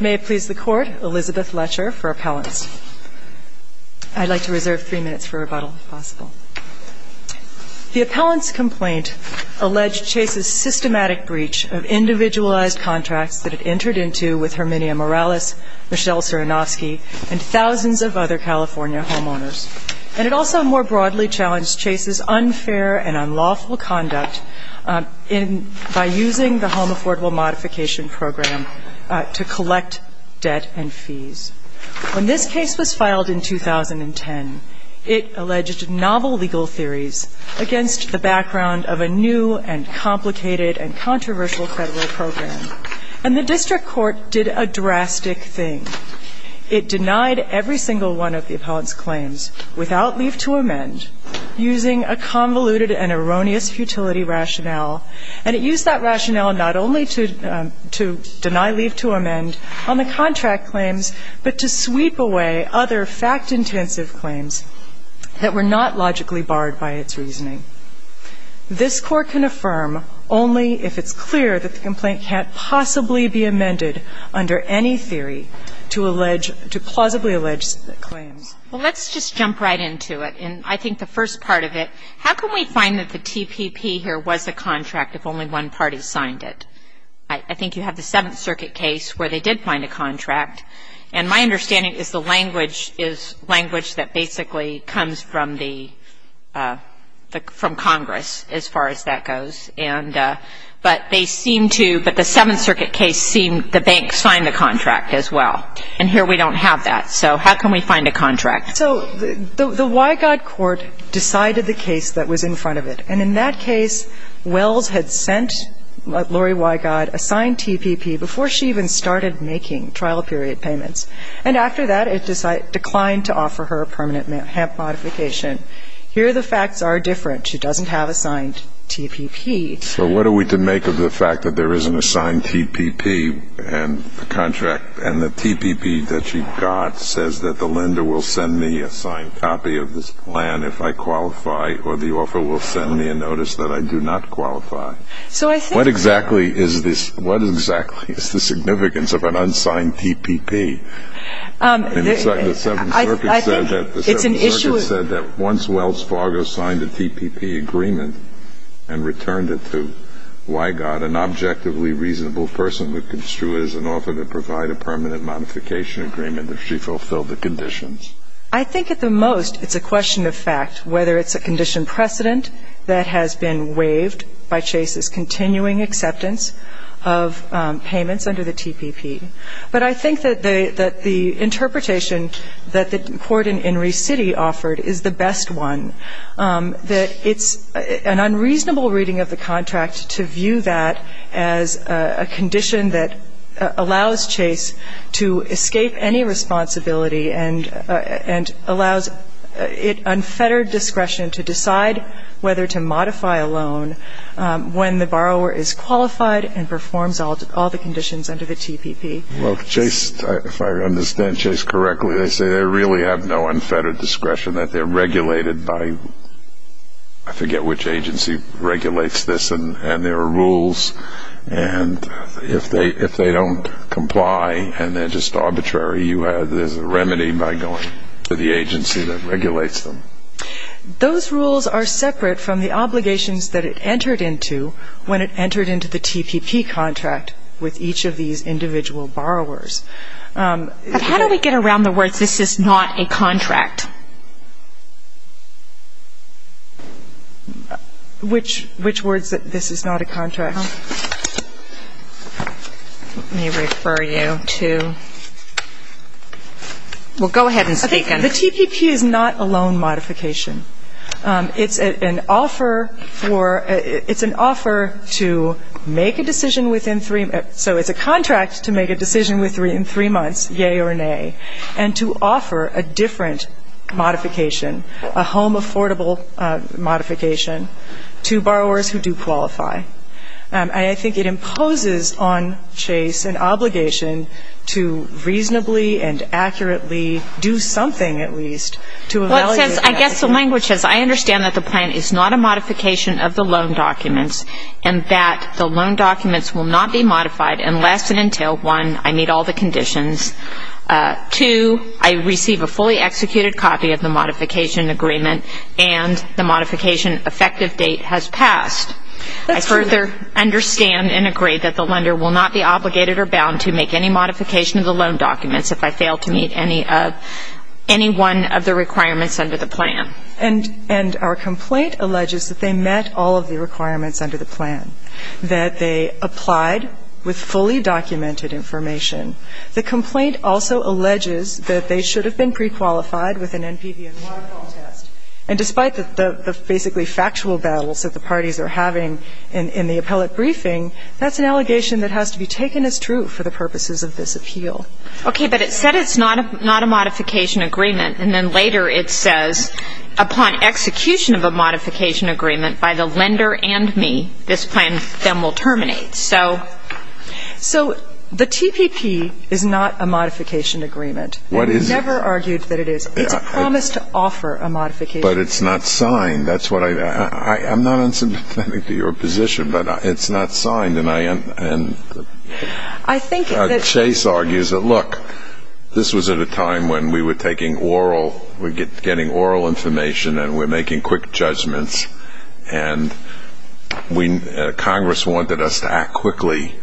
May it please the Court, Elizabeth Letcher for Appellants. I'd like to reserve three minutes for rebuttal, if possible. The appellant's complaint alleged Chase's systematic breach of individualized contracts that it entered into with Herminia Morales, Michelle Cerenovsky, and thousands of other California homeowners. And it also more broadly challenged Chase's unfair and unlawful conduct in by using the Home Affordable Modification Program to collect debt and fees. When this case was filed in 2010, it alleged novel legal theories against the background of a new and complicated and controversial federal program. And the district court did a drastic thing. It denied every single one of the appellant's claims without leave to amend, using a convoluted and erroneous futility rationale. And it used that rationale not only to deny leave to amend on the contract claims, but to sweep away other fact-intensive claims that were not logically barred by its reasoning. This Court can affirm only if it's clear that the complaint can't possibly be amended under any theory to allege to plausibly allege claims. Well, let's just jump right into it. And I think the first part of it, how can we find that the TPP here was a contract if only one party signed it? I think you have the Seventh Circuit case where they did find a contract. And my understanding is the language is language that basically comes from the from Congress as far as that goes. And but they seem to but the Seventh Circuit case seemed the bank signed the contract as well. And here we don't have that. So how can we find a contract? So the Wygod Court decided the case that was in front of it. And in that case, Wells had sent Lori Wygod a signed TPP before she even started making trial period payments. And after that, it declined to offer her a permanent HAMP modification. Here the facts are different. She doesn't have a signed TPP. So what are we to make of the fact that there is an assigned TPP and the contract TPP that she got says that the lender will send me a signed copy of this plan if I qualify or the offer will send me a notice that I do not qualify? So I think What exactly is this? What exactly is the significance of an unsigned TPP? I think it's an issue The Seventh Circuit said that once Wells Fargo signed a TPP agreement and returned it to Wygod, an objectively reasonable person would construe it as an offer to provide a permanent modification agreement if she fulfilled the conditions. I think at the most it's a question of fact, whether it's a condition precedent that has been waived by Chase's continuing acceptance of payments under the TPP. But I think that the interpretation that the court in Enrique City offered is the best one, that it's an unreasonable reading of the contract to view that as a condition that allows Chase to escape any responsibility and allows unfettered discretion to decide whether to modify a loan when the borrower is qualified and performs all the conditions under the TPP. Well, Chase, if I understand Chase correctly, they say they really have no unfettered discretion that they're regulated by, I forget which agency regulates this, and there are rules and if they don't comply and they're just arbitrary, there's a remedy by going to the agency that regulates them. Those rules are separate from the obligations that it entered into when it entered into the TPP contract with each of these individual borrowers. But how do we get around the words, this is not a contract? Which words, this is not a contract? Let me refer you to, well, go ahead and speak. Okay. The TPP is not a loan modification. It's an offer for, it's an offer to make a decision within three, so it's a contract to make a decision within three months, yea or nay, and to offer a different modification, a home affordable modification to borrowers who do qualify. And I think it imposes on Chase an obligation to reasonably and accurately do something at least to evaluate that decision. Well, it says, I guess the language says, I understand that the plan is not a modification of the loan documents and that the loan documents will not be modified unless and until, one, I meet all the conditions, two, I receive a fully executed copy of the modification agreement and the modification effective date has passed. That's true. I further understand and agree that the lender will not be obligated or bound to make any modification of the loan documents if I fail to meet any one of the requirements under the plan. And our complaint alleges that they met all of the requirements under the plan, that they applied with fully documented information. The complaint also alleges that they should have been prequalified with an NPVN1 test. And despite the basically factual battles that the parties are having in the appellate briefing, that's an allegation that has to be taken as true for the purposes of this appeal. Okay. But it said it's not a modification agreement. And then later it says, upon execution of a modification agreement by the lender and me, this plan then will terminate. So the TPP is not a modification agreement. What is it? I've never argued that it is. It's a promise to offer a modification agreement. But it's not signed. That's what I've got. I'm not unsubstantiating to your position, but it's not signed. And I think that Chase argues that, look, this was at a time when we were taking oral information and we're making quick judgments, and Congress wanted us to act quickly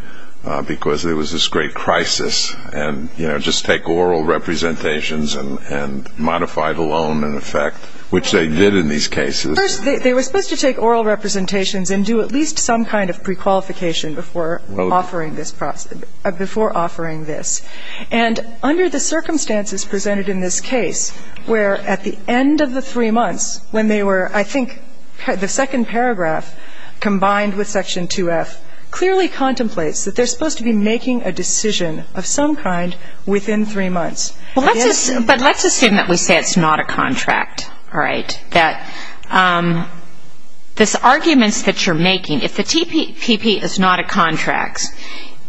because there was this great crisis, and, you know, just take oral representations and modify the loan in effect, which they did in these cases. First, they were supposed to take oral representations and do at least some kind of prequalification before offering this. And under the circumstances presented in this case, where at the end of the three months, when they were, I think, the second paragraph combined with Section 2F, clearly contemplates that they're supposed to be making a decision of some kind within three months. But let's assume that we say it's not a contract, all right, that this argument that you're making, if the TPP is not a contract,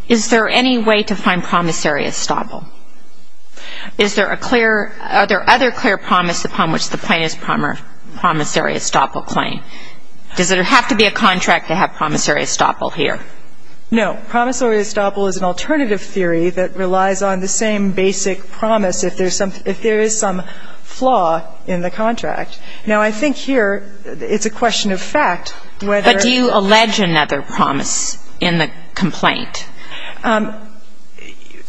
is there any way to find promissory estoppel? Is there a clear other clear promise upon which the plaintiff's promissory estoppel claim? Does it have to be a contract to have promissory estoppel here? No. Promissory estoppel is an alternative theory that relies on the same basic promise if there is some flaw in the contract. Now, I think here it's a question of fact whether But do you allege another promise in the complaint?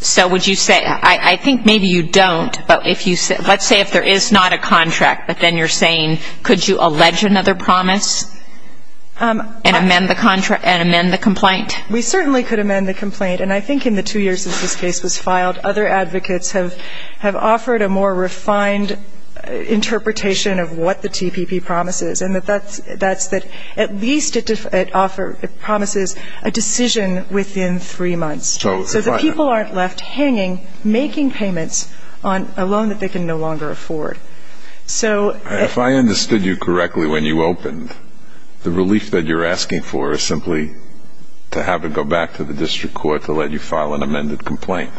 So would you say, I think maybe you don't, but let's say if there is not a contract, but then you're saying could you allege another promise and amend the complaint? We certainly could amend the complaint. And I think in the two years since this case was filed, other advocates have offered a more refined interpretation of what the TPP promise is, and that's that at least it promises a decision within three months. So the people aren't left hanging making payments on a loan that they can no longer afford. If I understood you correctly when you opened, the relief that you're asking for is simply to have to go back to the district court to let you file an amended complaint.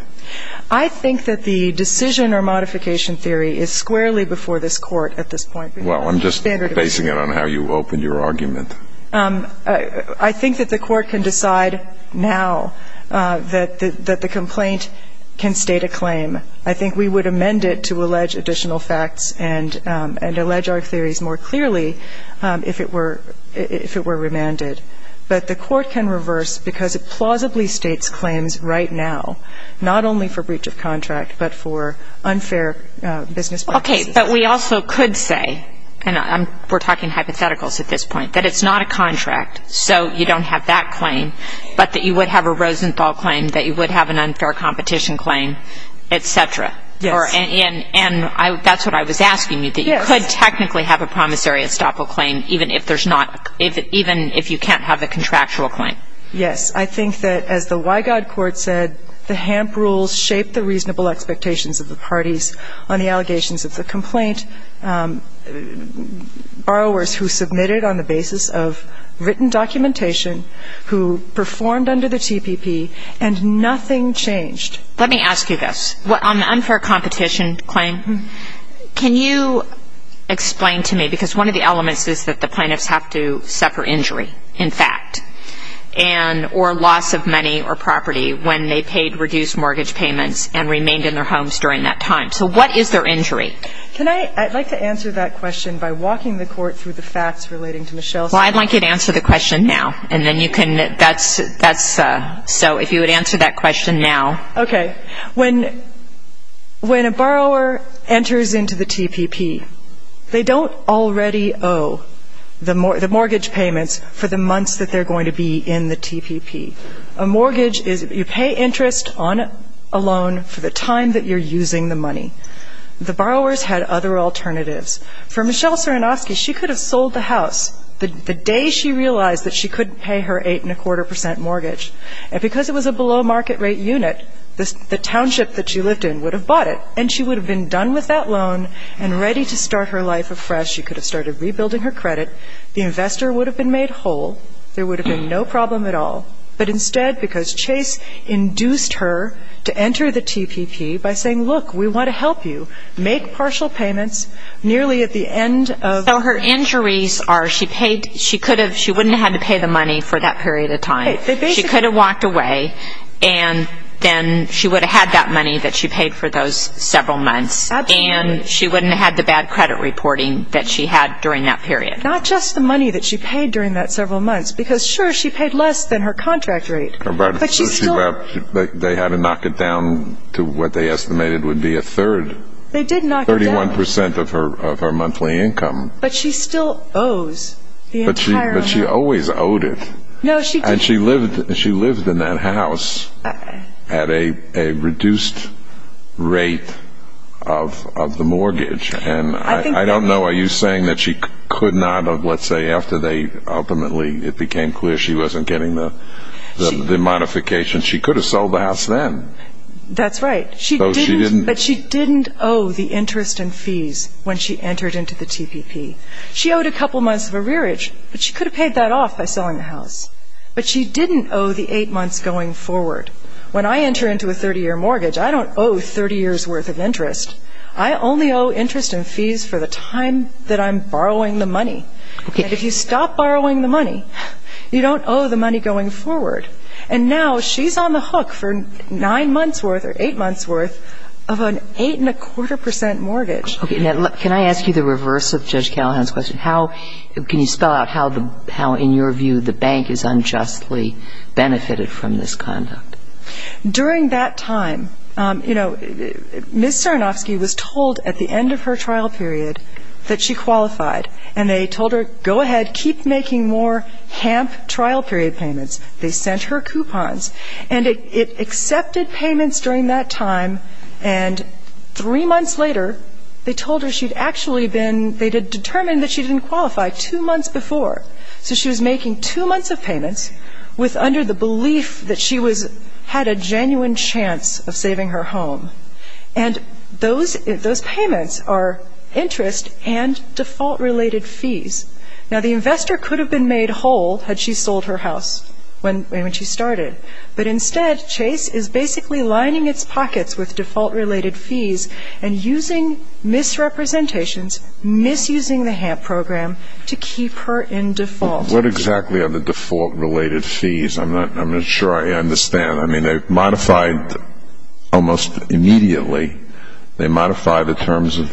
I think that the decision or modification theory is squarely before this court at this point. Well, I'm just basing it on how you opened your argument. I think that the court can decide now that the complaint can state a claim. I think we would amend it to allege additional facts and allege our theories more clearly if it were remanded. But the court can reverse because it plausibly states claims right now, not only for breach of contract, but for unfair business practices. Okay, but we also could say, and we're talking hypotheticals at this point, that it's not a contract, so you don't have that claim, but that you would have a Rosenthal claim, that you would have an unfair competition claim, et cetera. Yes. And that's what I was asking you, that you could technically have a promissory estoppel claim even if you can't have a contractual claim. Yes. I think that as the Wygod Court said, the HAMP rules shape the reasonable expectations of the parties on the allegations of the complaint. Borrowers who submitted on the basis of written documentation, who performed under the TPP, and nothing changed. Let me ask you this. On the unfair competition claim, can you explain to me, because one of the elements is that the plaintiffs have to suffer injury, in fact, or loss of money or property when they paid reduced mortgage payments and remained in their homes during that time. So what is their injury? I'd like to answer that question by walking the Court through the facts relating to Michelle's case. Well, I'd like you to answer the question now. So if you would answer that question now. Okay. When a borrower enters into the TPP, they don't already owe the mortgage payments for the months that they're going to be in the TPP. A mortgage is you pay interest on a loan for the time that you're using the money. The borrowers had other alternatives. For Michelle Cerenovsky, she could have sold the house the day she realized that she couldn't pay her 8.25% mortgage. And because it was a below market rate unit, the township that she lived in would have bought it, and she would have been done with that loan and ready to start her life afresh. She could have started rebuilding her credit. The investor would have been made whole. There would have been no problem at all. But instead, because Chase induced her to enter the TPP by saying, look, we want to help you, make partial payments nearly at the end of the year. So her injuries are she paid, she could have, she wouldn't have had to pay the money for that period of time. She could have walked away, and then she would have had that money that she paid for those several months. Absolutely. And she wouldn't have had the bad credit reporting that she had during that period. Not just the money that she paid during that several months, because, sure, she paid less than her contract rate. But they had to knock it down to what they estimated would be a third. They did knock it down. 31% of her monthly income. But she still owes the entire amount. But she always owed it. No, she didn't. And she lived in that house at a reduced rate of the mortgage. And I don't know, are you saying that she could not, let's say, after they ultimately it became clear she wasn't getting the modification, she could have sold the house then. That's right. But she didn't owe the interest and fees when she entered into the TPP. She owed a couple months of arrearage, but she could have paid that off by selling the house. But she didn't owe the eight months going forward. When I enter into a 30-year mortgage, I don't owe 30 years' worth of interest. I only owe interest and fees for the time that I'm borrowing the money. If you stop borrowing the money, you don't owe the money going forward. And now she's on the hook for nine months' worth or eight months' worth of an eight-and-a-quarter percent mortgage. Can I ask you the reverse of Judge Callahan's question? Can you spell out how, in your view, the bank is unjustly benefited from this conduct? During that time, you know, Ms. Sarnofsky was told at the end of her trial period that she qualified. And they told her, go ahead, keep making more HAMP trial period payments. They sent her coupons. And it accepted payments during that time. And three months later, they told her she'd actually been ‑‑ they had determined that she didn't qualify two months before. So she was making two months of payments under the belief that she had a genuine chance of saving her home. And those payments are interest and default-related fees. Now, the investor could have been made whole had she sold her house when she started. But instead, Chase is basically lining its pockets with default-related fees and using misrepresentations, misusing the HAMP program to keep her in default. What exactly are the default-related fees? I'm not sure I understand. I mean, they're modified almost immediately. They modify the terms of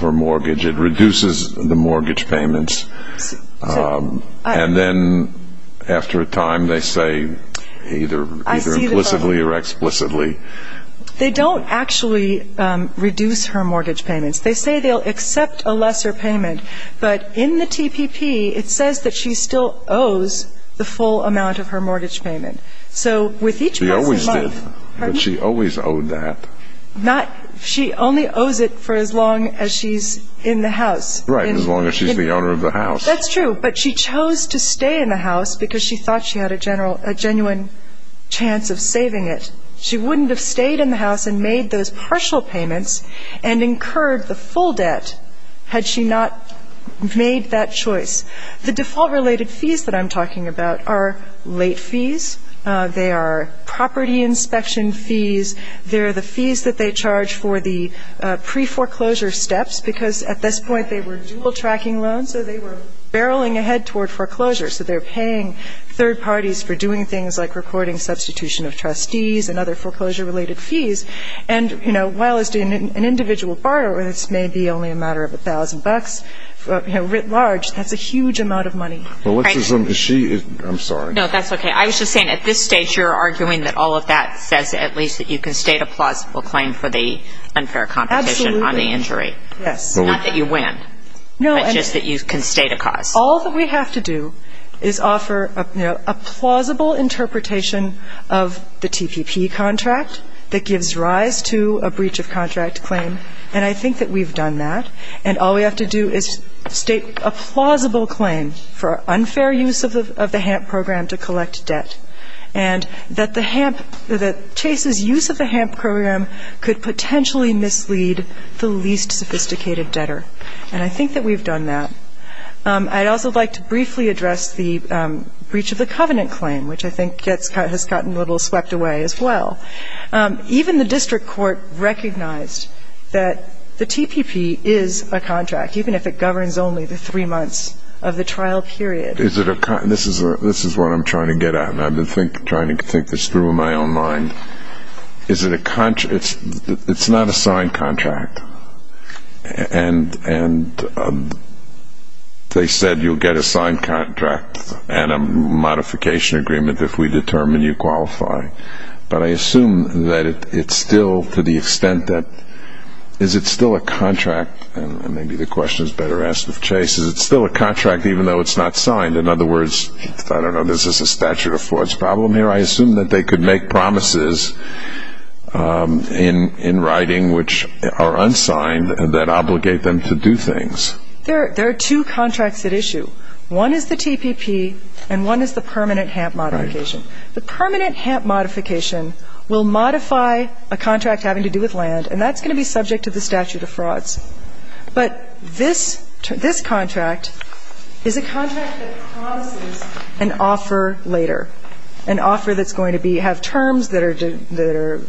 her mortgage. It reduces the mortgage payments. And then after a time, they say either implicitly or explicitly. They don't actually reduce her mortgage payments. They say they'll accept a lesser payment. But in the TPP, it says that she still owes the full amount of her mortgage payment. So with each passing month ‑‑ She always did. She always owed that. She only owes it for as long as she's in the house. Right, as long as she's the owner of the house. That's true. But she chose to stay in the house because she thought she had a genuine chance of saving it. She wouldn't have stayed in the house and made those partial payments and incurred the full debt had she not made that choice. The default-related fees that I'm talking about are late fees. They are property inspection fees. They're the fees that they charge for the pre-foreclosure steps because at this point they were dual tracking loans, so they were barreling ahead toward foreclosure. So they're paying third parties for doing things like recording substitution of trustees and other foreclosure-related fees. And, you know, while it's an individual borrower, this may be only a matter of $1,000, you know, writ large, that's a huge amount of money. Melissa, is she ‑‑ I'm sorry. No, that's okay. I was just saying at this stage you're arguing that all of that says at least that you can state a plausible claim for the unfair competition on the injury. Not that you win, but just that you can state a cause. All that we have to do is offer, you know, a plausible interpretation of the TPP contract that gives rise to a breach of contract claim, and I think that we've done that. And all we have to do is state a plausible claim for unfair use of the HAMP program to collect debt and that the HAMP ‑‑ that Chase's use of the HAMP program could potentially mislead the least sophisticated debtor. And I think that we've done that. I'd also like to briefly address the breach of the covenant claim, which I think has gotten a little swept away as well. Even the district court recognized that the TPP is a contract, even if it governs only the three months of the trial period. Is it a ‑‑ this is what I'm trying to get at, and I've been trying to think this through in my own mind. Is it a ‑‑ it's not a signed contract. And they said you'll get a signed contract and a modification agreement if we determine you qualify. But I assume that it's still to the extent that is it still a contract, and maybe the question is better asked of Chase, is it still a contract even though it's not signed? In other words, I don't know, is this a statute of flaws problem here? I assume that they could make promises in writing which are unsigned that obligate them to do things. There are two contracts at issue. One is the TPP, and one is the permanent HAMP modification. The permanent HAMP modification will modify a contract having to do with land, and that's going to be subject to the statute of frauds. But this contract is a contract that promises an offer later, an offer that's going to have terms that are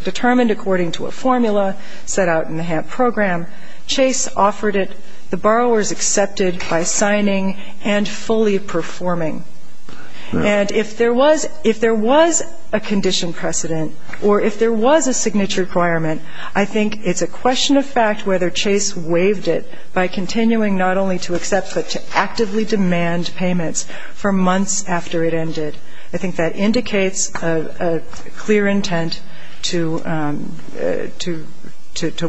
determined according to a formula set out in the HAMP program. Chase offered it. The borrowers accepted by signing and fully performing. And if there was a condition precedent or if there was a signature requirement, I think it's a question of fact whether Chase waived it by continuing not only to accept but to actively demand payments for months after it ended. I think that indicates a clear intent to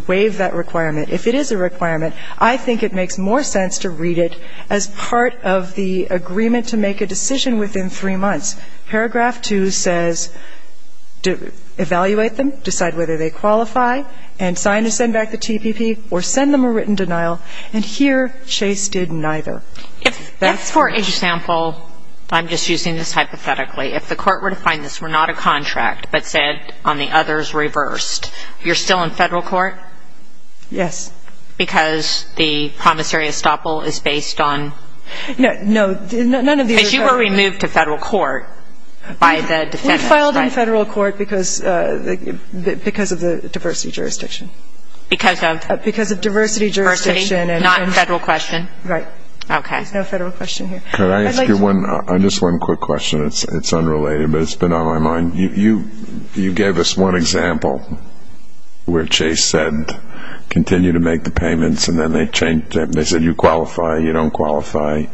waive that requirement. If it is a requirement, I think it makes more sense to read it as part of the agreement to make a decision within three months. Paragraph 2 says evaluate them, decide whether they qualify, and sign to send back the TPP or send them a written denial. And here Chase did neither. If, for example, I'm just using this hypothetically, if the court were to find this were not a contract but said on the others reversed, you're still in federal court? Yes. Because the promissory estoppel is based on? No, none of these are federal. Because you were removed to federal court by the defendant, right? We filed in federal court because of the diversity jurisdiction. Because of? Because of diversity jurisdiction. Not in federal question? Right. Okay. There's no federal question here. Can I ask you just one quick question? It's unrelated but it's been on my mind. You gave us one example where Chase said continue to make the payments and then they changed it. They said you qualify, you don't qualify.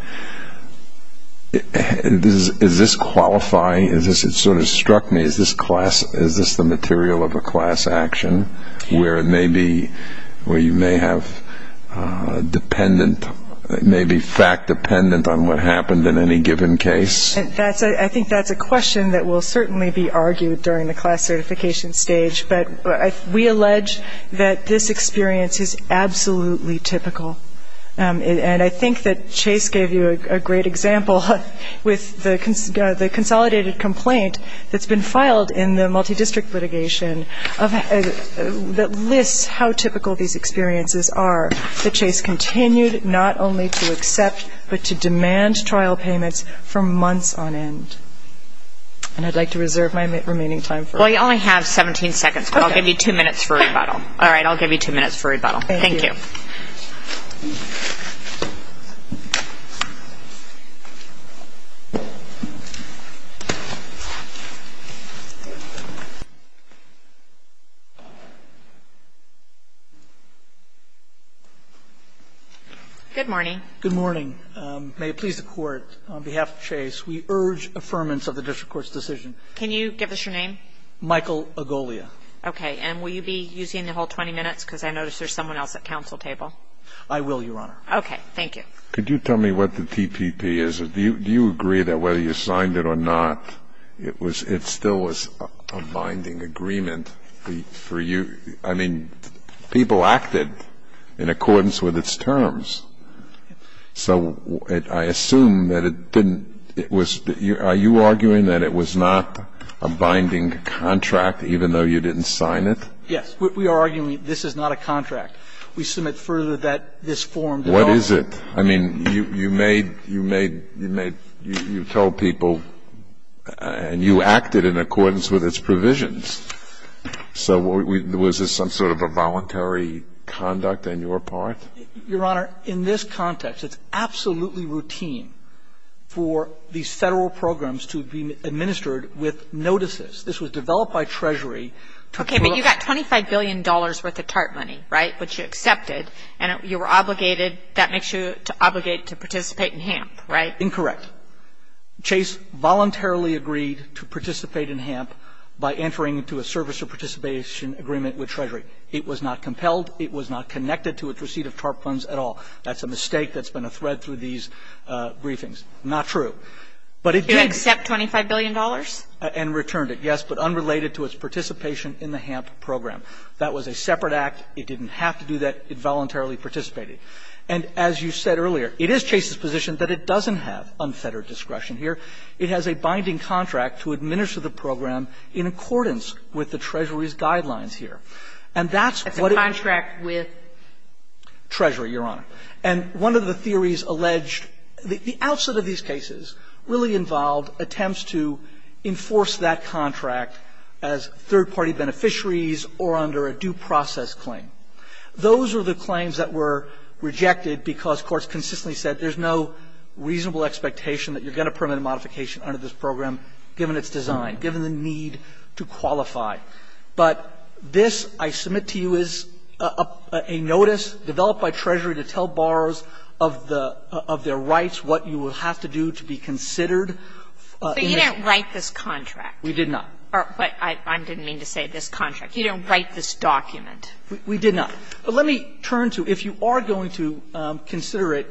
Is this qualify? It sort of struck me, is this the material of a class action where it may be, where you may have dependent, may be fact dependent on what happened in any given case? I think that's a question that will certainly be argued during the class certification stage. But we allege that this experience is absolutely typical. And I think that Chase gave you a great example with the consolidated complaint that's been filed in the multi-district litigation that lists how typical these experiences are, that Chase continued not only to accept but to demand trial payments for months on end. And I'd like to reserve my remaining time for it. Well, you only have 17 seconds, but I'll give you two minutes for rebuttal. All right, I'll give you two minutes for rebuttal. Thank you. Thank you. Good morning. Good morning. May it please the Court, on behalf of Chase, we urge affirmance of the district court's decision. Can you give us your name? Michael Agolia. Okay. And will you be using the whole 20 minutes? Because I notice there's someone else at counsel table. I will, Your Honor. Okay. Thank you. Could you tell me what the TPP is? Do you agree that whether you signed it or not, it was – it still was a binding agreement for you? I mean, people acted in accordance with its terms. So I assume that it didn't – it was – are you arguing that it was not a binding contract even though you didn't sign it? Yes. We are arguing this is not a contract. We submit further that this form did not – What is it? I mean, you made – you told people and you acted in accordance with its provisions. So was this some sort of a voluntary conduct on your part? Your Honor, in this context, it's absolutely routine for these Federal programs to be administered with notices. This was developed by Treasury to – Okay. But you got $25 billion worth of TARP money, right, which you accepted. And you were obligated – that makes you obligated to participate in HAMP, right? Incorrect. Chase voluntarily agreed to participate in HAMP by entering into a service of participation agreement with Treasury. It was not compelled. It was not connected to its receipt of TARP funds at all. That's a mistake that's been a thread through these briefings. Not true. But it did – Did it accept $25 billion? And returned it, yes. But unrelated to its participation in the HAMP program. That was a separate act. It didn't have to do that. It voluntarily participated. And as you said earlier, it is Chase's position that it doesn't have unfettered discretion here. It has a binding contract to administer the program in accordance with the Treasury's guidelines here. And that's what it – It's a contract with? Treasury, Your Honor. And one of the theories alleged – the outset of these cases really involved attempts to enforce that contract as third-party beneficiaries or under a due process claim. Those are the claims that were rejected because courts consistently said there's no reasonable expectation that you're going to permit a modification under this program given its design, given the need to qualify. But this, I submit to you, is a notice developed by Treasury to tell borrowers of the – of their But you didn't write this contract. We did not. I didn't mean to say this contract. You didn't write this document. We did not. But let me turn to if you are going to consider it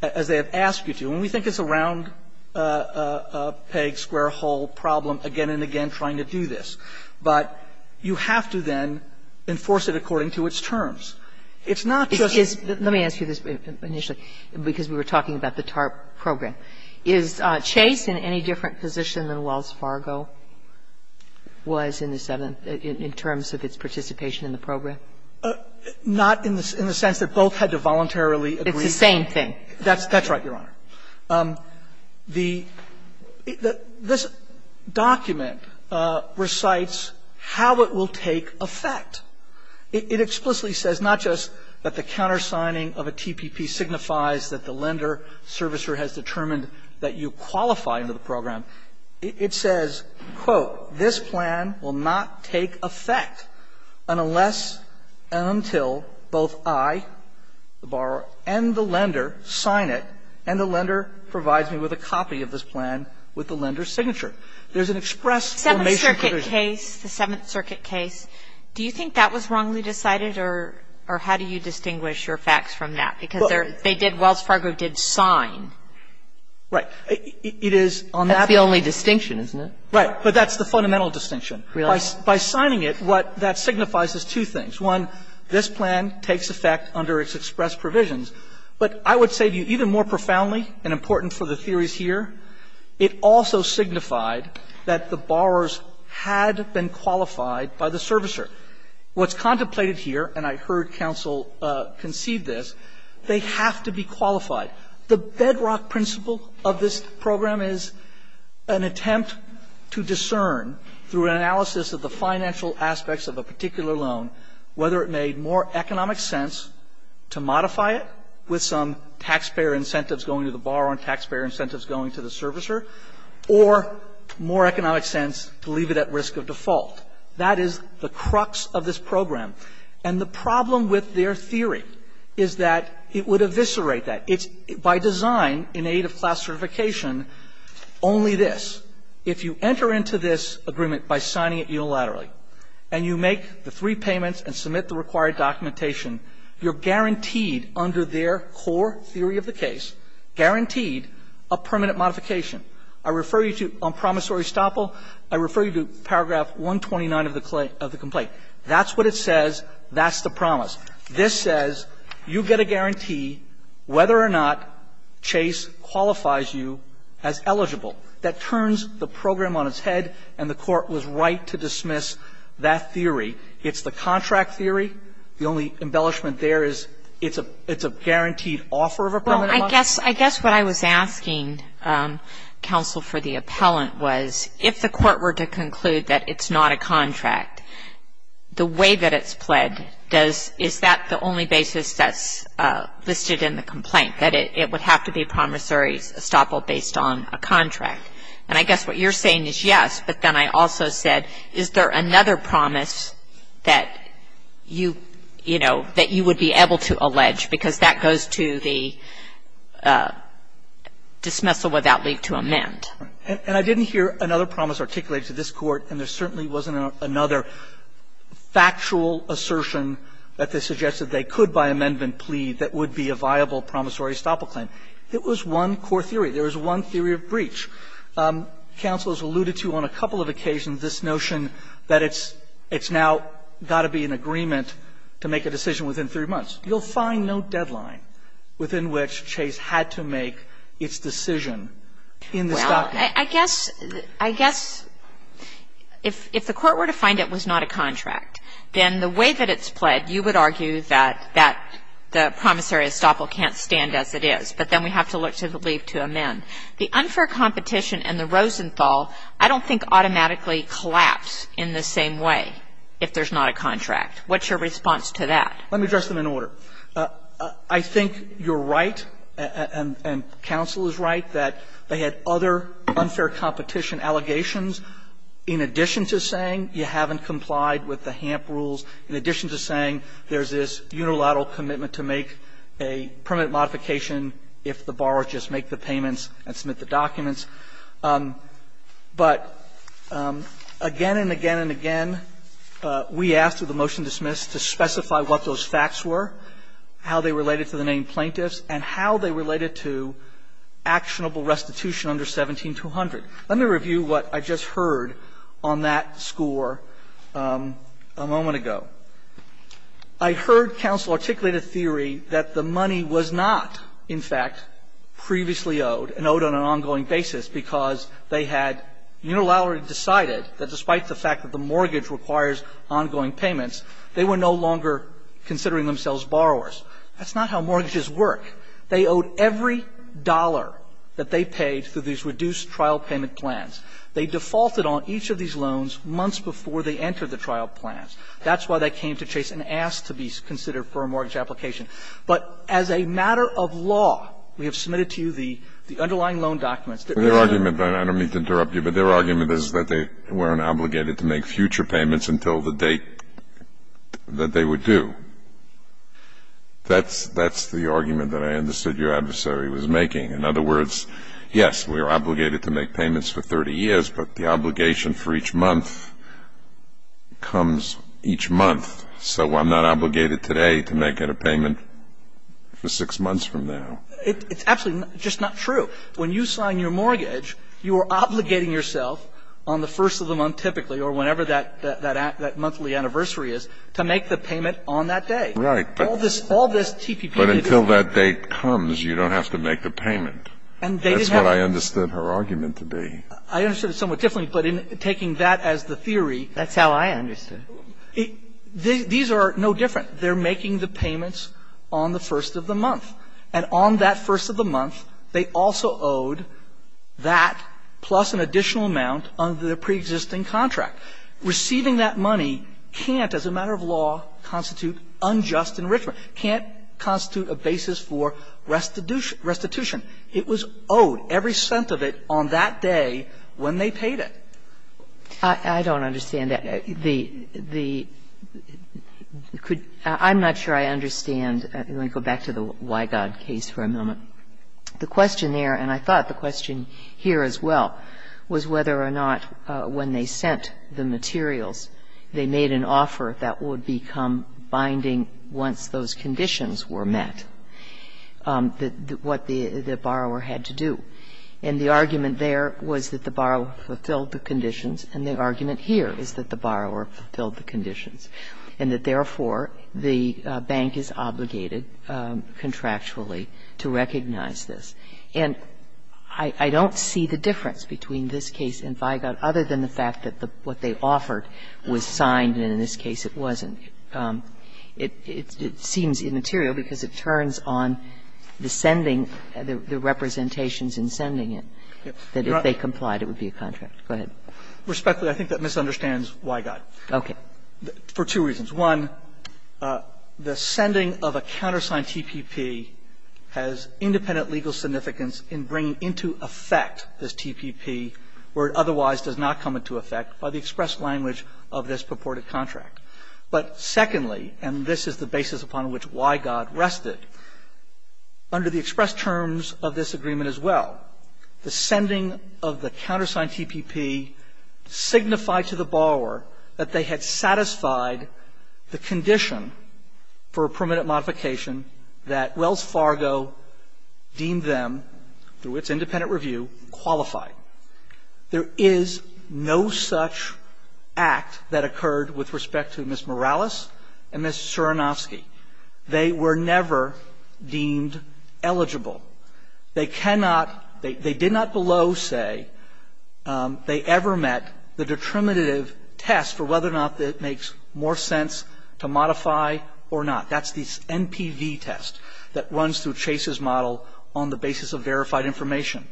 as they have asked you to, and we think it's a round peg, square hole problem again and again trying to do this, but you have to then enforce it according to its terms. It's not just Let me ask you this initially, because we were talking about the TARP program. Is Chase in any different position than Wells Fargo was in the seventh in terms of its participation in the program? Not in the sense that both had to voluntarily agree. It's the same thing. That's right, Your Honor. The – this document recites how it will take effect. It explicitly says not just that the countersigning of a TPP signifies that the lender servicer has determined that you qualify under the program. It says, quote, this plan will not take effect unless and until both I, the borrower, and the lender sign it and the lender provides me with a copy of this plan with the lender's signature. There's an express formation provision. And that's the only distinction, isn't it? Right. But that's the fundamental distinction. Really? By signing it, what that signifies is two things. One, this plan takes effect under its express provisions. But I would say to you, even more profoundly and important for the theories here, it also signified that the borrowers had to sign the TARP program. They had to sign it. They had to sign it. They had to sign it. What's contemplated here, and I heard counsel conceive this, they have to be qualified. The bedrock principle of this program is an attempt to discern through an analysis of the financial aspects of a particular loan whether it made more economic sense to modify it with some taxpayer incentives going to the borrower and taxpayer That is the crux of this program. And the problem with their theory is that it would eviscerate that. It's by design, in aid of classification, only this. If you enter into this agreement by signing it unilaterally and you make the three payments and submit the required documentation, you're guaranteed under their core theory of the case, guaranteed a permanent modification. I refer you to, on promissory estoppel, I refer you to paragraph 129 of the complaint. That's what it says. That's the promise. This says you get a guarantee whether or not Chase qualifies you as eligible. That turns the program on its head, and the Court was right to dismiss that theory. It's the contract theory. The only embellishment there is it's a guaranteed offer of a permanent modification. I guess what I was asking, counsel, for the appellant was if the Court were to conclude that it's not a contract, the way that it's pled, is that the only basis that's listed in the complaint, that it would have to be promissory estoppel based on a contract? And I guess what you're saying is yes, but then I also said, is there another promise that you would be able to allege? Because that goes to the dismissal without leave to amend. And I didn't hear another promise articulated to this Court, and there certainly wasn't another factual assertion that they suggested they could, by amendment, plead that would be a viable promissory estoppel claim. It was one core theory. There was one theory of breach. Counsel has alluded to on a couple of occasions this notion that it's now got to be an agreement to make a decision within three months. You'll find no deadline within which Chase had to make its decision in the estoppel. Well, I guess, I guess if the Court were to find it was not a contract, then the way that it's pled, you would argue that the promissory estoppel can't stand as it is, but then we have to look to the leave to amend. The unfair competition and the Rosenthal I don't think automatically collapse in the same way if there's not a contract. What's your response to that? Let me address them in order. I think you're right, and counsel is right, that they had other unfair competition allegations in addition to saying you haven't complied with the HAMP rules, in addition to saying there's this unilateral commitment to make a permit modification if the borrower just makes the payments and submits the documents. But again and again and again, we asked for the motion dismissed to specify what those facts were, how they related to the named plaintiffs, and how they related to actionable restitution under 17-200. Let me review what I just heard on that score a moment ago. I heard counsel articulate a theory that the money was not, in fact, previously owed and owed on an ongoing basis because they had unilaterally decided that despite the fact that the mortgage requires ongoing payments, they were no longer considering themselves borrowers. That's not how mortgages work. They owed every dollar that they paid through these reduced trial payment plans. They defaulted on each of these loans months before they entered the trial plans. That's why they came to chase an ass to be considered for a mortgage application. But as a matter of law, we have submitted to you the underlying loan documents that we have submitted. I don't mean to interrupt you, but their argument is that they weren't obligated to make future payments until the date that they would do. That's the argument that I understood your adversary was making. In other words, yes, we are obligated to make payments for 30 years, but the obligation for each month comes each month. So I'm not obligated today to make a payment for six months from now. It's absolutely just not true. When you sign your mortgage, you are obligating yourself on the first of the month, typically, or whenever that monthly anniversary is, to make the payment on that day. All this TPP. But until that date comes, you don't have to make the payment. That's what I understood her argument to be. I understood it somewhat differently, but in taking that as the theory. That's how I understood it. These are no different. They're making the payments on the first of the month. And on that first of the month, they also owed that plus an additional amount under the preexisting contract. Receiving that money can't, as a matter of law, constitute unjust enrichment, can't constitute a basis for restitution. It was owed, every cent of it, on that day when they paid it. I don't understand that. I'm not sure I understand. Let me go back to the Wygod case for a moment. The question there, and I thought the question here as well, was whether or not when they sent the materials, they made an offer that would become binding once those conditions were met, what the borrower had to do. And the argument there was that the borrower fulfilled the conditions, and the argument here is that the borrower fulfilled the conditions, and that, therefore, the bank is obligated contractually to recognize this. And I don't see the difference between this case and Wygod other than the fact that what they offered was signed, and in this case it wasn't. It seems immaterial because it turns on the sending, the representations in sending it, that if they complied it would be a contract. Respectfully, I think that misunderstands Wygod. Okay. For two reasons. One, the sending of a countersigned TPP has independent legal significance in bringing into effect this TPP where it otherwise does not come into effect by the express language of this purported contract. But secondly, and this is the basis upon which Wygod rested, under the express terms of this agreement as well, the sending of the countersigned TPP signified to the borrower that they had satisfied the condition for a permanent modification that Wells Fargo deemed them, through its independent review, qualified. There is no such act that occurred with respect to Ms. Morales and Ms. Suranovsky. They were never deemed eligible. They cannot – they did not below say they ever met the detrimentive test for whether or not it makes more sense to modify or not. That's the NPV test that runs through Chase's model on the basis of verified information.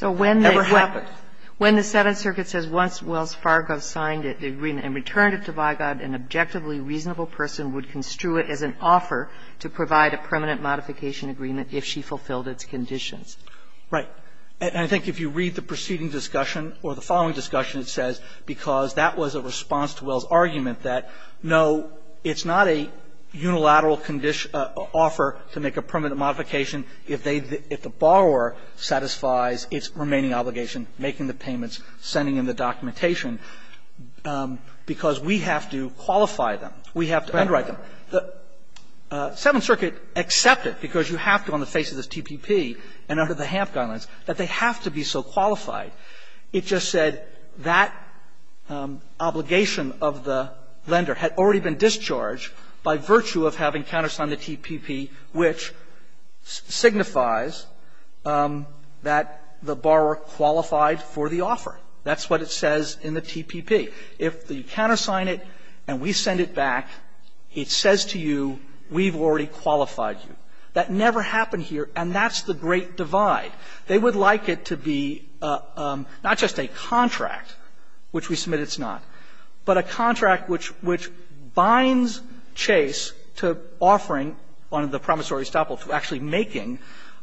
It never happened. So when the Senate circuit says once Wells Fargo signed it, the agreement, and returned it to Wygod, an objectively reasonable person would construe it as an offer to provide a permanent modification agreement if she fulfilled its conditions. Right. And I think if you read the preceding discussion, or the following discussion, it says, because that was a response to Wells' argument that, no, it's not a unilateral offer to make a permanent modification if they – if the borrower satisfies its remaining obligation, making the payments, sending in the documentation. Because we have to qualify them. We have to underwrite them. The Seventh Circuit accepted, because you have to on the face of this TPP and under the HAMP guidelines, that they have to be so qualified. It just said that obligation of the lender had already been discharged by virtue of having countersigned the TPP, which signifies that the borrower qualified for the offer. That's what it says in the TPP. If you countersign it and we send it back, it says to you, we've already qualified you. That never happened here, and that's the great divide. They would like it to be not just a contract, which we submit it's not, but a contract which binds Chase to offering on the promissory estoppel to actually making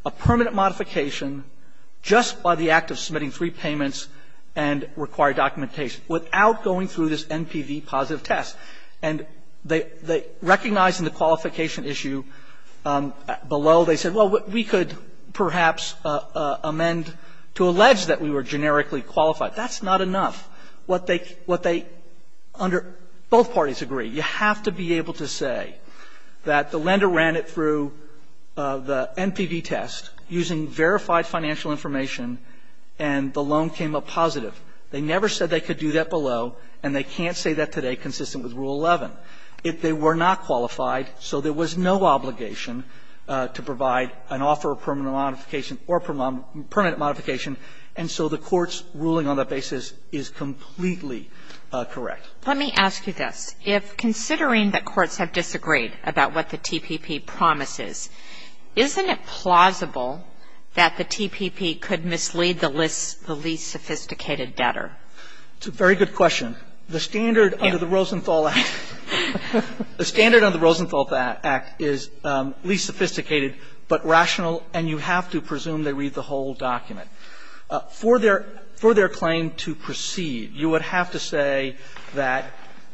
a permanent modification just by the act of submitting three payments and required documentation without going through this NPV positive test. And they recognized in the qualification issue below, they said, well, we could perhaps amend to allege that we were generically qualified. That's not enough. What they – what they – under – both parties agree. You have to be able to say that the lender ran it through the NPV test, using verified financial information, and the loan came up positive. They never said they could do that below, and they can't say that today, consistent with Rule 11. If they were not qualified, so there was no obligation to provide an offer of permanent modification or permanent modification, and so the Court's ruling on that basis is completely correct. Let me ask you this. If, considering that courts have disagreed about what the TPP promises, isn't it plausible that the TPP could mislead the least sophisticated debtor? It's a very good question. The standard under the Rosenthal Act – the standard under the Rosenthal Act is least sophisticated, but rational, and you have to presume they read the whole document. For their – for their claim to proceed, you would have to say that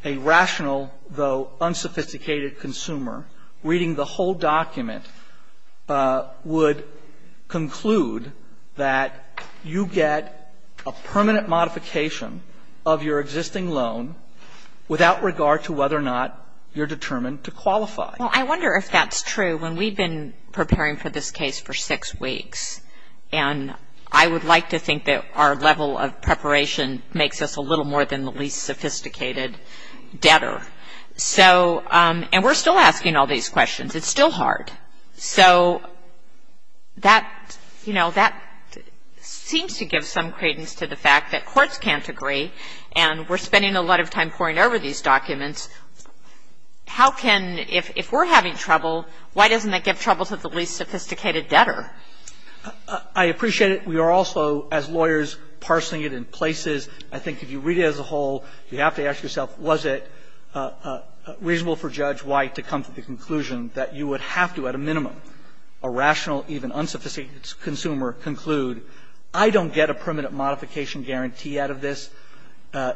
a rational, though unsophisticated consumer reading the whole document would conclude that you get a permanent modification of your existing loan without regard to whether or not you're determined to qualify. Well, I wonder if that's true. When we've been preparing for this case for six weeks, and I would like to think that our level of preparation makes us a little more than the least sophisticated debtor, so – and we're still asking all these questions. It's still hard. So that, you know, that seems to give some credence to the fact that courts can't agree, and we're spending a lot of time poring over these documents. How can – if we're having trouble, why doesn't that give trouble to the least sophisticated debtor? I appreciate it. We are also, as lawyers, parsing it in places. I think if you read it as a whole, you have to ask yourself, was it reasonable for Judge White to come to the conclusion that you would have to, at a minimum, a rational, even unsophisticated consumer conclude, I don't get a permanent modification guarantee out of this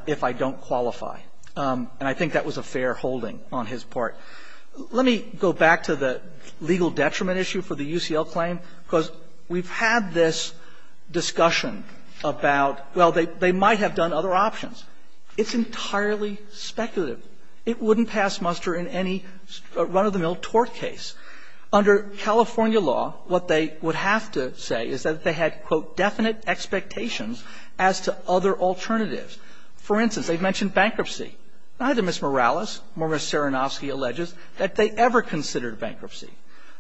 if I don't qualify. And I think that was a fair holding on his part. Let me go back to the legal detriment issue for the UCL claim, because we've had this discussion about, well, they might have done other options. It's entirely speculative. It wouldn't pass muster in any run-of-the-mill tort case. Under California law, what they would have to say is that they had, quote, definite expectations as to other alternatives. For instance, they mentioned bankruptcy. Neither Ms. Morales nor Ms. Saranofsky alleges that they ever considered bankruptcy.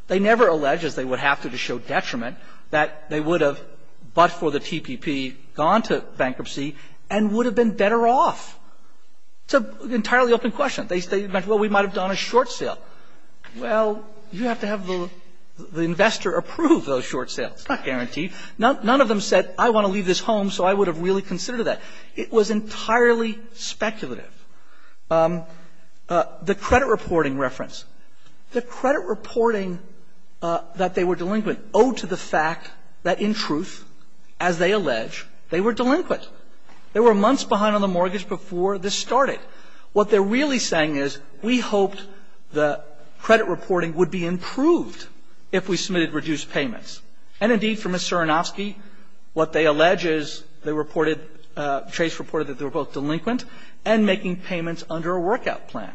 They never allege, as they would have to to show detriment, that they would have, but for the TPP, gone to bankruptcy and would have been better off. It's an entirely open question. They say, well, we might have done a short sale. Well, you have to have the investor approve those short sales. It's not guaranteed. None of them said, I want to leave this home, so I would have really considered that. It was entirely speculative. The credit reporting reference. The credit reporting that they were delinquent owed to the fact that, in truth, as they allege, they were delinquent. They were months behind on the mortgage before this started. What they're really saying is, we hoped the credit reporting would be improved if we submitted reduced payments. And, indeed, for Ms. Saranofsky, what they allege is they reported, Chase reported that they were both delinquent and making payments under a workout plan.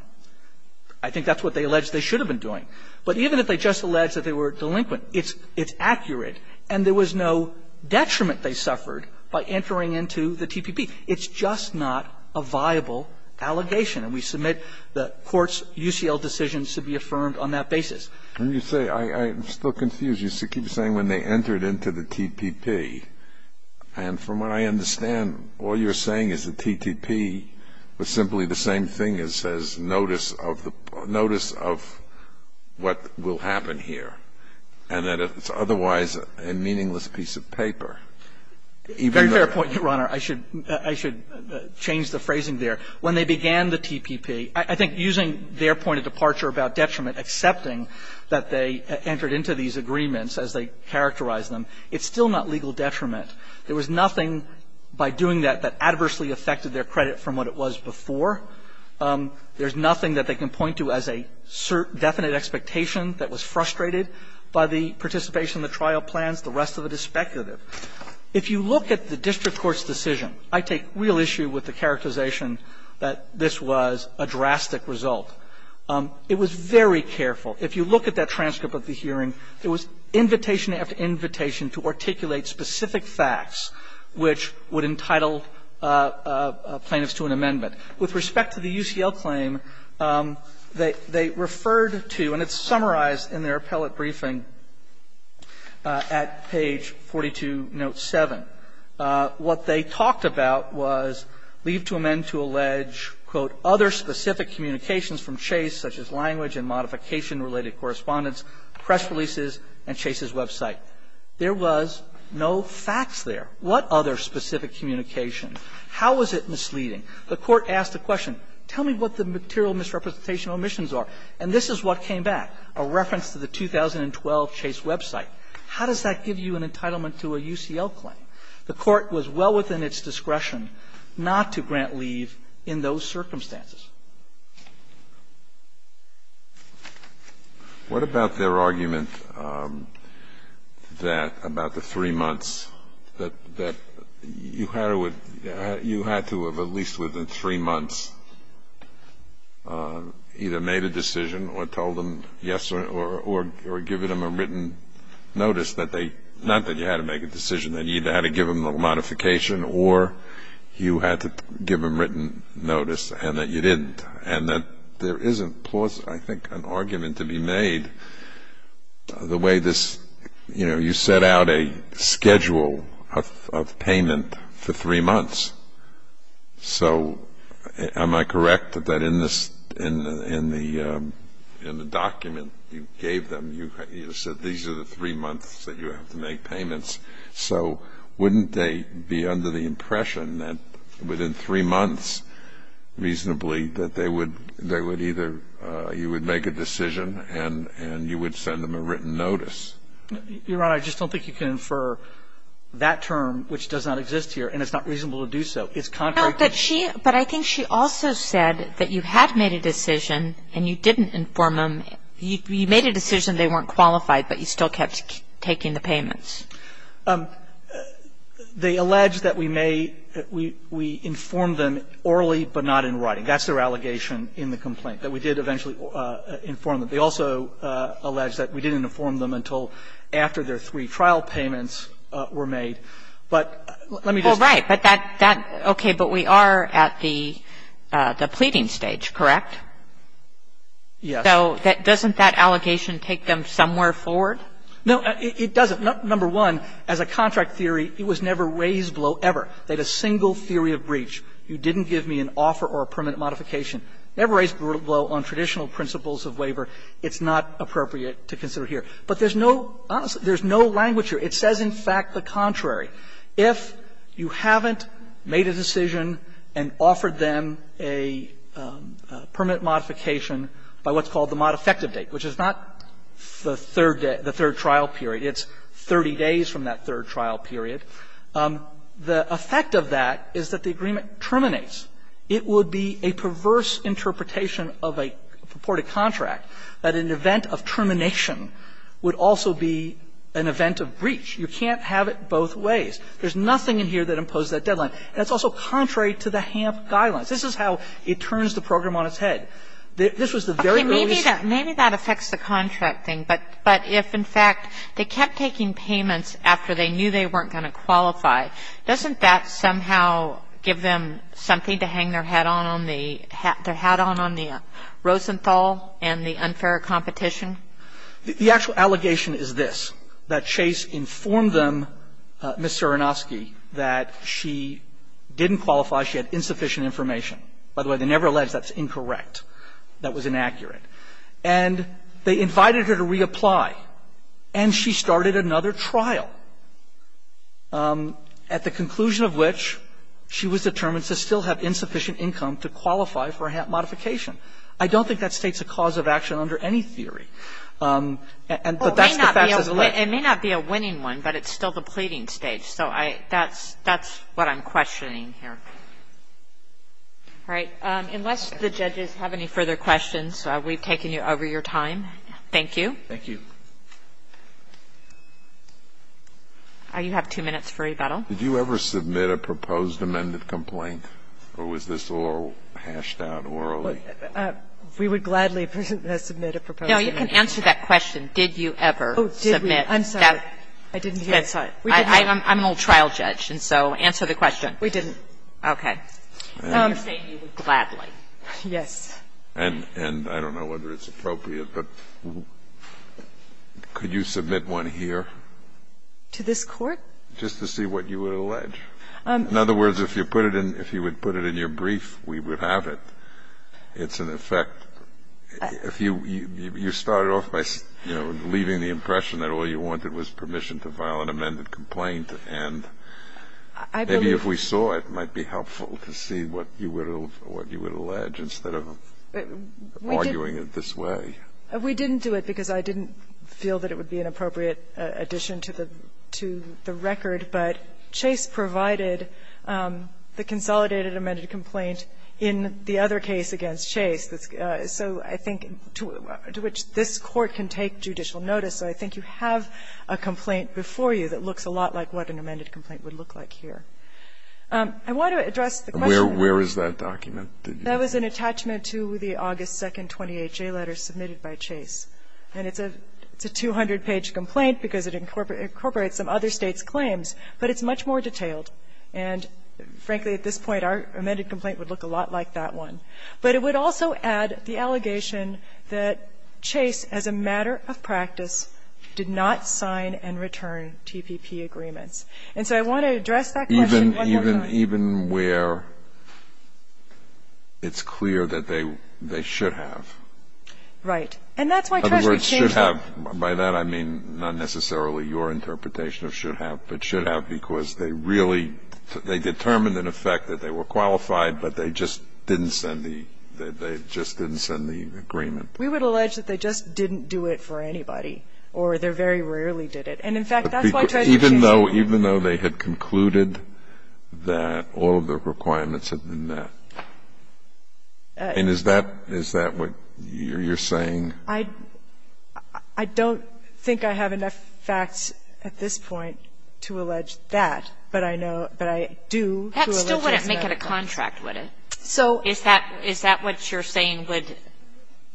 I think that's what they allege they should have been doing. But even if they just allege that they were delinquent, it's accurate, and there was no detriment they suffered by entering into the TPP. It's just not a viable allegation, and we submit the Court's UCL decisions to be affirmed on that basis. Kennedy, I'm still confused. You keep saying when they entered into the TPP, and from what I understand, all you're saying is the TTP was simply the same thing as says, notice of the --" notice of what will happen here, and that it's otherwise a meaningless piece of paper. Even though they're not delinquent. Very fair point, Your Honor. I should change the phrasing there. When they began the TPP, I think using their point of departure about detriment, accepting that they entered into these agreements as they characterized them, it's still not legal detriment. There was nothing by doing that that adversely affected their credit from what it was before. There's nothing that they can point to as a definite expectation that was frustrated by the participation in the trial plans. The rest of it is speculative. If you look at the district court's decision, I take real issue with the characterization that this was a drastic result. It was very careful. If you look at that transcript of the hearing, there was invitation after invitation to articulate specific facts which would entitle plaintiffs to an amendment. With respect to the UCL claim, they referred to, and it's summarized in their appellate briefing at page 42, note 7, what they talked about was leave to amend to allege, quote, other specific communications from Chase, such as language and modification-related correspondence, press releases, and Chase's website. There was no facts there. What other specific communication? How was it misleading? The Court asked the question, tell me what the material misrepresentation omissions are. And this is what came back, a reference to the 2012 Chase website. How does that give you an entitlement to a UCL claim? The Court was well within its discretion not to grant leave in those circumstances. Kennedy, what about their argument that, about the three months, that you had to have at least, within three months, either made a decision or told them yes, or given them a written notice that they – not that you had to make a decision. That you either had to give them a modification or you had to give them written notice, and that you didn't. And that there is, I think, an argument to be made the way this – you know, you set out a schedule of payment for three months. So am I correct that in the document you gave them, you said these are the three months that you have to make payments? So wouldn't they be under the impression that within three months, reasonably, that they would either – you would make a decision and you would send them a written notice? Your Honor, I just don't think you can infer that term, which does not exist here, and it's not reasonable to do so. It's contrary to the – But I think she also said that you had made a decision and you didn't inform them – you made a decision, they weren't qualified, but you still kept taking the payments. They allege that we may – we informed them orally but not in writing. That's their allegation in the complaint, that we did eventually inform them. They also allege that we didn't inform them until after their three trial payments were made. But let me just – Well, right. But that – okay. But we are at the pleading stage, correct? Yes. So doesn't that allegation take them somewhere forward? No, it doesn't. Number one, as a contract theory, it was never raised below ever. They had a single theory of breach. You didn't give me an offer or a permanent modification. Never raised below on traditional principles of waiver. It's not appropriate to consider here. But there's no – honestly, there's no language here. It says, in fact, the contrary. If you haven't made a decision and offered them a permanent modification by what's called the modifective date, which is not the third trial period, it's 30 days from that third trial period, the effect of that is that the agreement terminates. It would be a perverse interpretation of a purported contract that an event of termination would also be an event of breach. You can't have it both ways. There's nothing in here that imposes that deadline. And it's also contrary to the HAMP guidelines. This is how it turns the program on its head. This was the very earliest – But if, in fact, they kept taking payments after they knew they weren't going to qualify, doesn't that somehow give them something to hang their hat on on the Rosenthal and the unfair competition? The actual allegation is this, that Chase informed them, Ms. Cerenovsky, that she didn't qualify, she had insufficient information. By the way, they never alleged that's incorrect, that was inaccurate. And they invited her to reapply, and she started another trial, at the conclusion of which she was determined to still have insufficient income to qualify for a HAMP modification. I don't think that states a cause of action under any theory, but that's the facts as it lay. It may not be a winning one, but it's still the pleading stage, so that's what I'm questioning here. All right. Unless the judges have any further questions, we've taken you over your time. Thank you. Thank you. You have two minutes for rebuttal. Did you ever submit a proposed amended complaint, or was this all hashed out orally? We would gladly submit a proposed amended complaint. No, you can answer that question, did you ever submit that? Oh, did we? I'm sorry. I didn't hear. I'm an old trial judge, and so answer the question. We didn't. Okay. You're saying you would gladly. Yes. And I don't know whether it's appropriate, but could you submit one here? To this Court? Just to see what you would allege. In other words, if you put it in your brief, we would have it. It's an effect. If you started off by, you know, leaving the impression that all you wanted was permission to file an amended complaint and maybe if we saw it, it might be helpful. It might be helpful to see what you would allege instead of arguing it this way. We didn't do it because I didn't feel that it would be an appropriate addition to the record, but Chase provided the consolidated amended complaint in the other case against Chase, so I think to which this Court can take judicial notice. So I think you have a complaint before you that looks a lot like what an amended complaint would look like here. I want to address the question. Where is that document? That was an attachment to the August 2nd 20HA letter submitted by Chase. And it's a 200-page complaint because it incorporates some other States' claims, but it's much more detailed. And frankly, at this point, our amended complaint would look a lot like that one. But it would also add the allegation that Chase, as a matter of practice, did not And so I want to address that claim. Even where it's clear that they should have. Right. In other words, should have. By that, I mean not necessarily your interpretation of should have, but should have because they really, they determined in effect that they were qualified, but they just didn't send the, they just didn't send the agreement. We would allege that they just didn't do it for anybody, or they very rarely did it. And in fact, that's why I tried to accuse them. Even though they had concluded that all of the requirements had been met. And is that what you're saying? I don't think I have enough facts at this point to allege that, but I know, but I do. That still wouldn't make it a contract, would it? So is that what you're saying would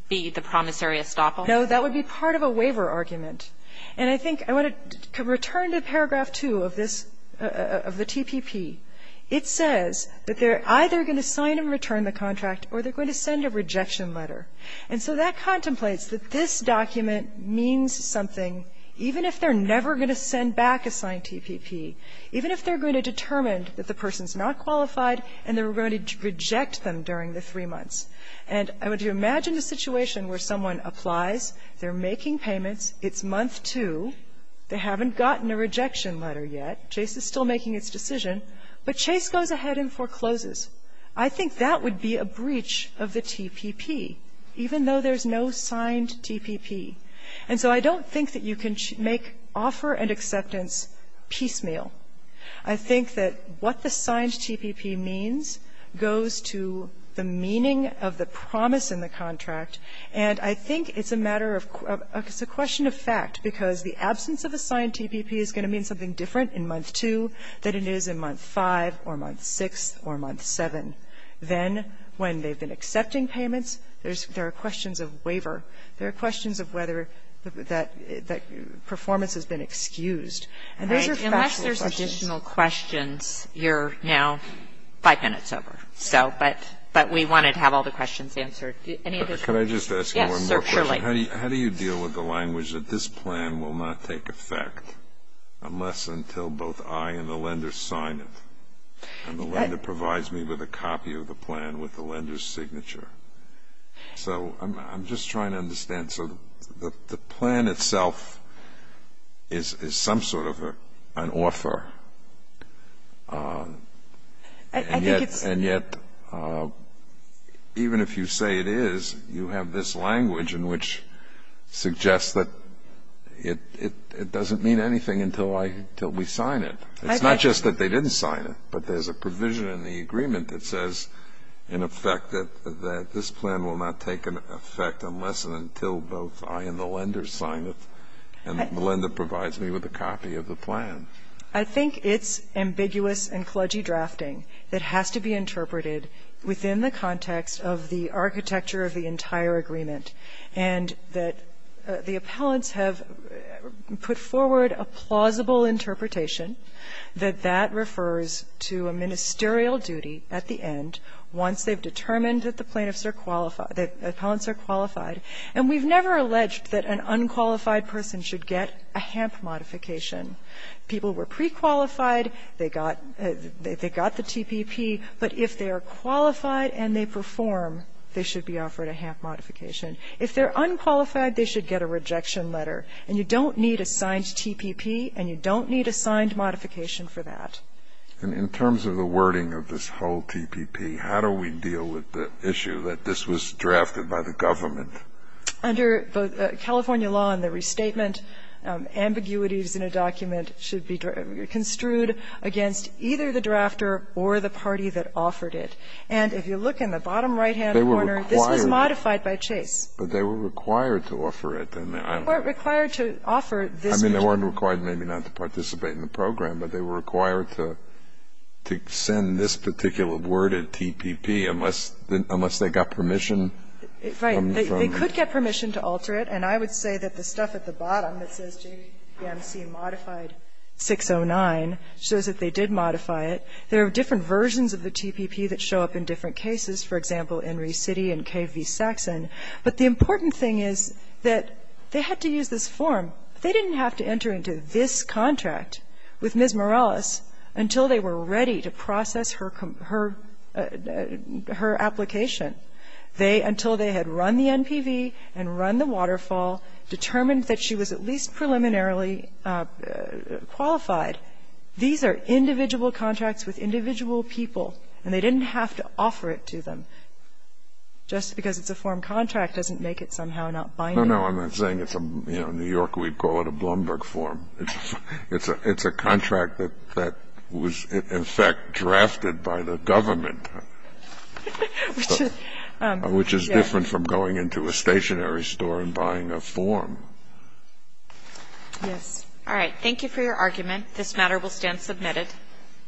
be the promissory estoppel? No, that would be part of a waiver argument. And I think I want to return to paragraph 2 of this, of the TPP. It says that they're either going to sign and return the contract or they're going to send a rejection letter. And so that contemplates that this document means something, even if they're never going to send back a signed TPP, even if they're going to determine that the person is not qualified and they're going to reject them during the three months. And I want you to imagine a situation where someone applies, they're making payments, it's month two, they haven't gotten a rejection letter yet, Chase is still making its decision, but Chase goes ahead and forecloses. I think that would be a breach of the TPP, even though there's no signed TPP. And so I don't think that you can make offer and acceptance piecemeal. I think that what the signed TPP means goes to the meaning of the promise in the absence of a signed TPP is going to mean something different in month two than it is in month five or month six or month seven. Then, when they've been accepting payments, there are questions of waiver. There are questions of whether that performance has been excused. And those are factual questions. Kagan. Unless there's additional questions, you're now five minutes over. So, but we wanted to have all the questions answered. Any additional? Can I just ask one more question? Yes, sir, surely. How do you deal with the language that this plan will not take effect unless until both I and the lender sign it? And the lender provides me with a copy of the plan with the lender's signature. So I'm just trying to understand. So the plan itself is some sort of an offer, and yet even if you say it is, you have this language in which suggests that it doesn't mean anything until we sign it. It's not just that they didn't sign it, but there's a provision in the agreement that says in effect that this plan will not take effect unless and until both I and the lender sign it, and the lender provides me with a copy of the plan. I think it's ambiguous and kludgy drafting that has to be interpreted within the context of the architecture of the entire agreement, and that the appellants have put forward a plausible interpretation that that refers to a ministerial duty at the end once they've determined that the plaintiffs are qualified, that the appellants are qualified. And we've never alleged that an unqualified person should get a HAMP modification. People were pre-qualified, they got the TPP, but if they are qualified and they perform, they should be offered a HAMP modification. If they're unqualified, they should get a rejection letter, and you don't need a signed TPP, and you don't need a signed modification for that. And in terms of the wording of this whole TPP, how do we deal with the issue that this was drafted by the government? Under both California law and the restatement, ambiguities in a document should be construed against either the drafter or the party that offered it. And if you look in the bottom right-hand corner, this was modified by Chase. But they were required to offer it. They weren't required to offer this. I mean, they weren't required maybe not to participate in the program, but they were required to send this particular worded TPP unless they got permission from the firm. Right. They could get permission to alter it. And I would say that the stuff at the bottom that says JPMC modified 609 shows that they did modify it. There are different versions of the TPP that show up in different cases, for example, Enry City and Cave v. Saxon. But the important thing is that they had to use this form. They didn't have to enter into this contract with Ms. Morales until they were ready to process her application. They, until they had run the NPV and run the waterfall, determined that she was at least preliminarily qualified. These are individual contracts with individual people, and they didn't have to offer it to them. Just because it's a form contract doesn't make it somehow not binding. No, no, I'm not saying it's a, you know, in New York we'd call it a Blumberg It's a contract that was, in fact, drafted by the government, which is different from going into a stationery store and buying a form. Yes. All right. Thank you for your argument. This matter will stand submitted.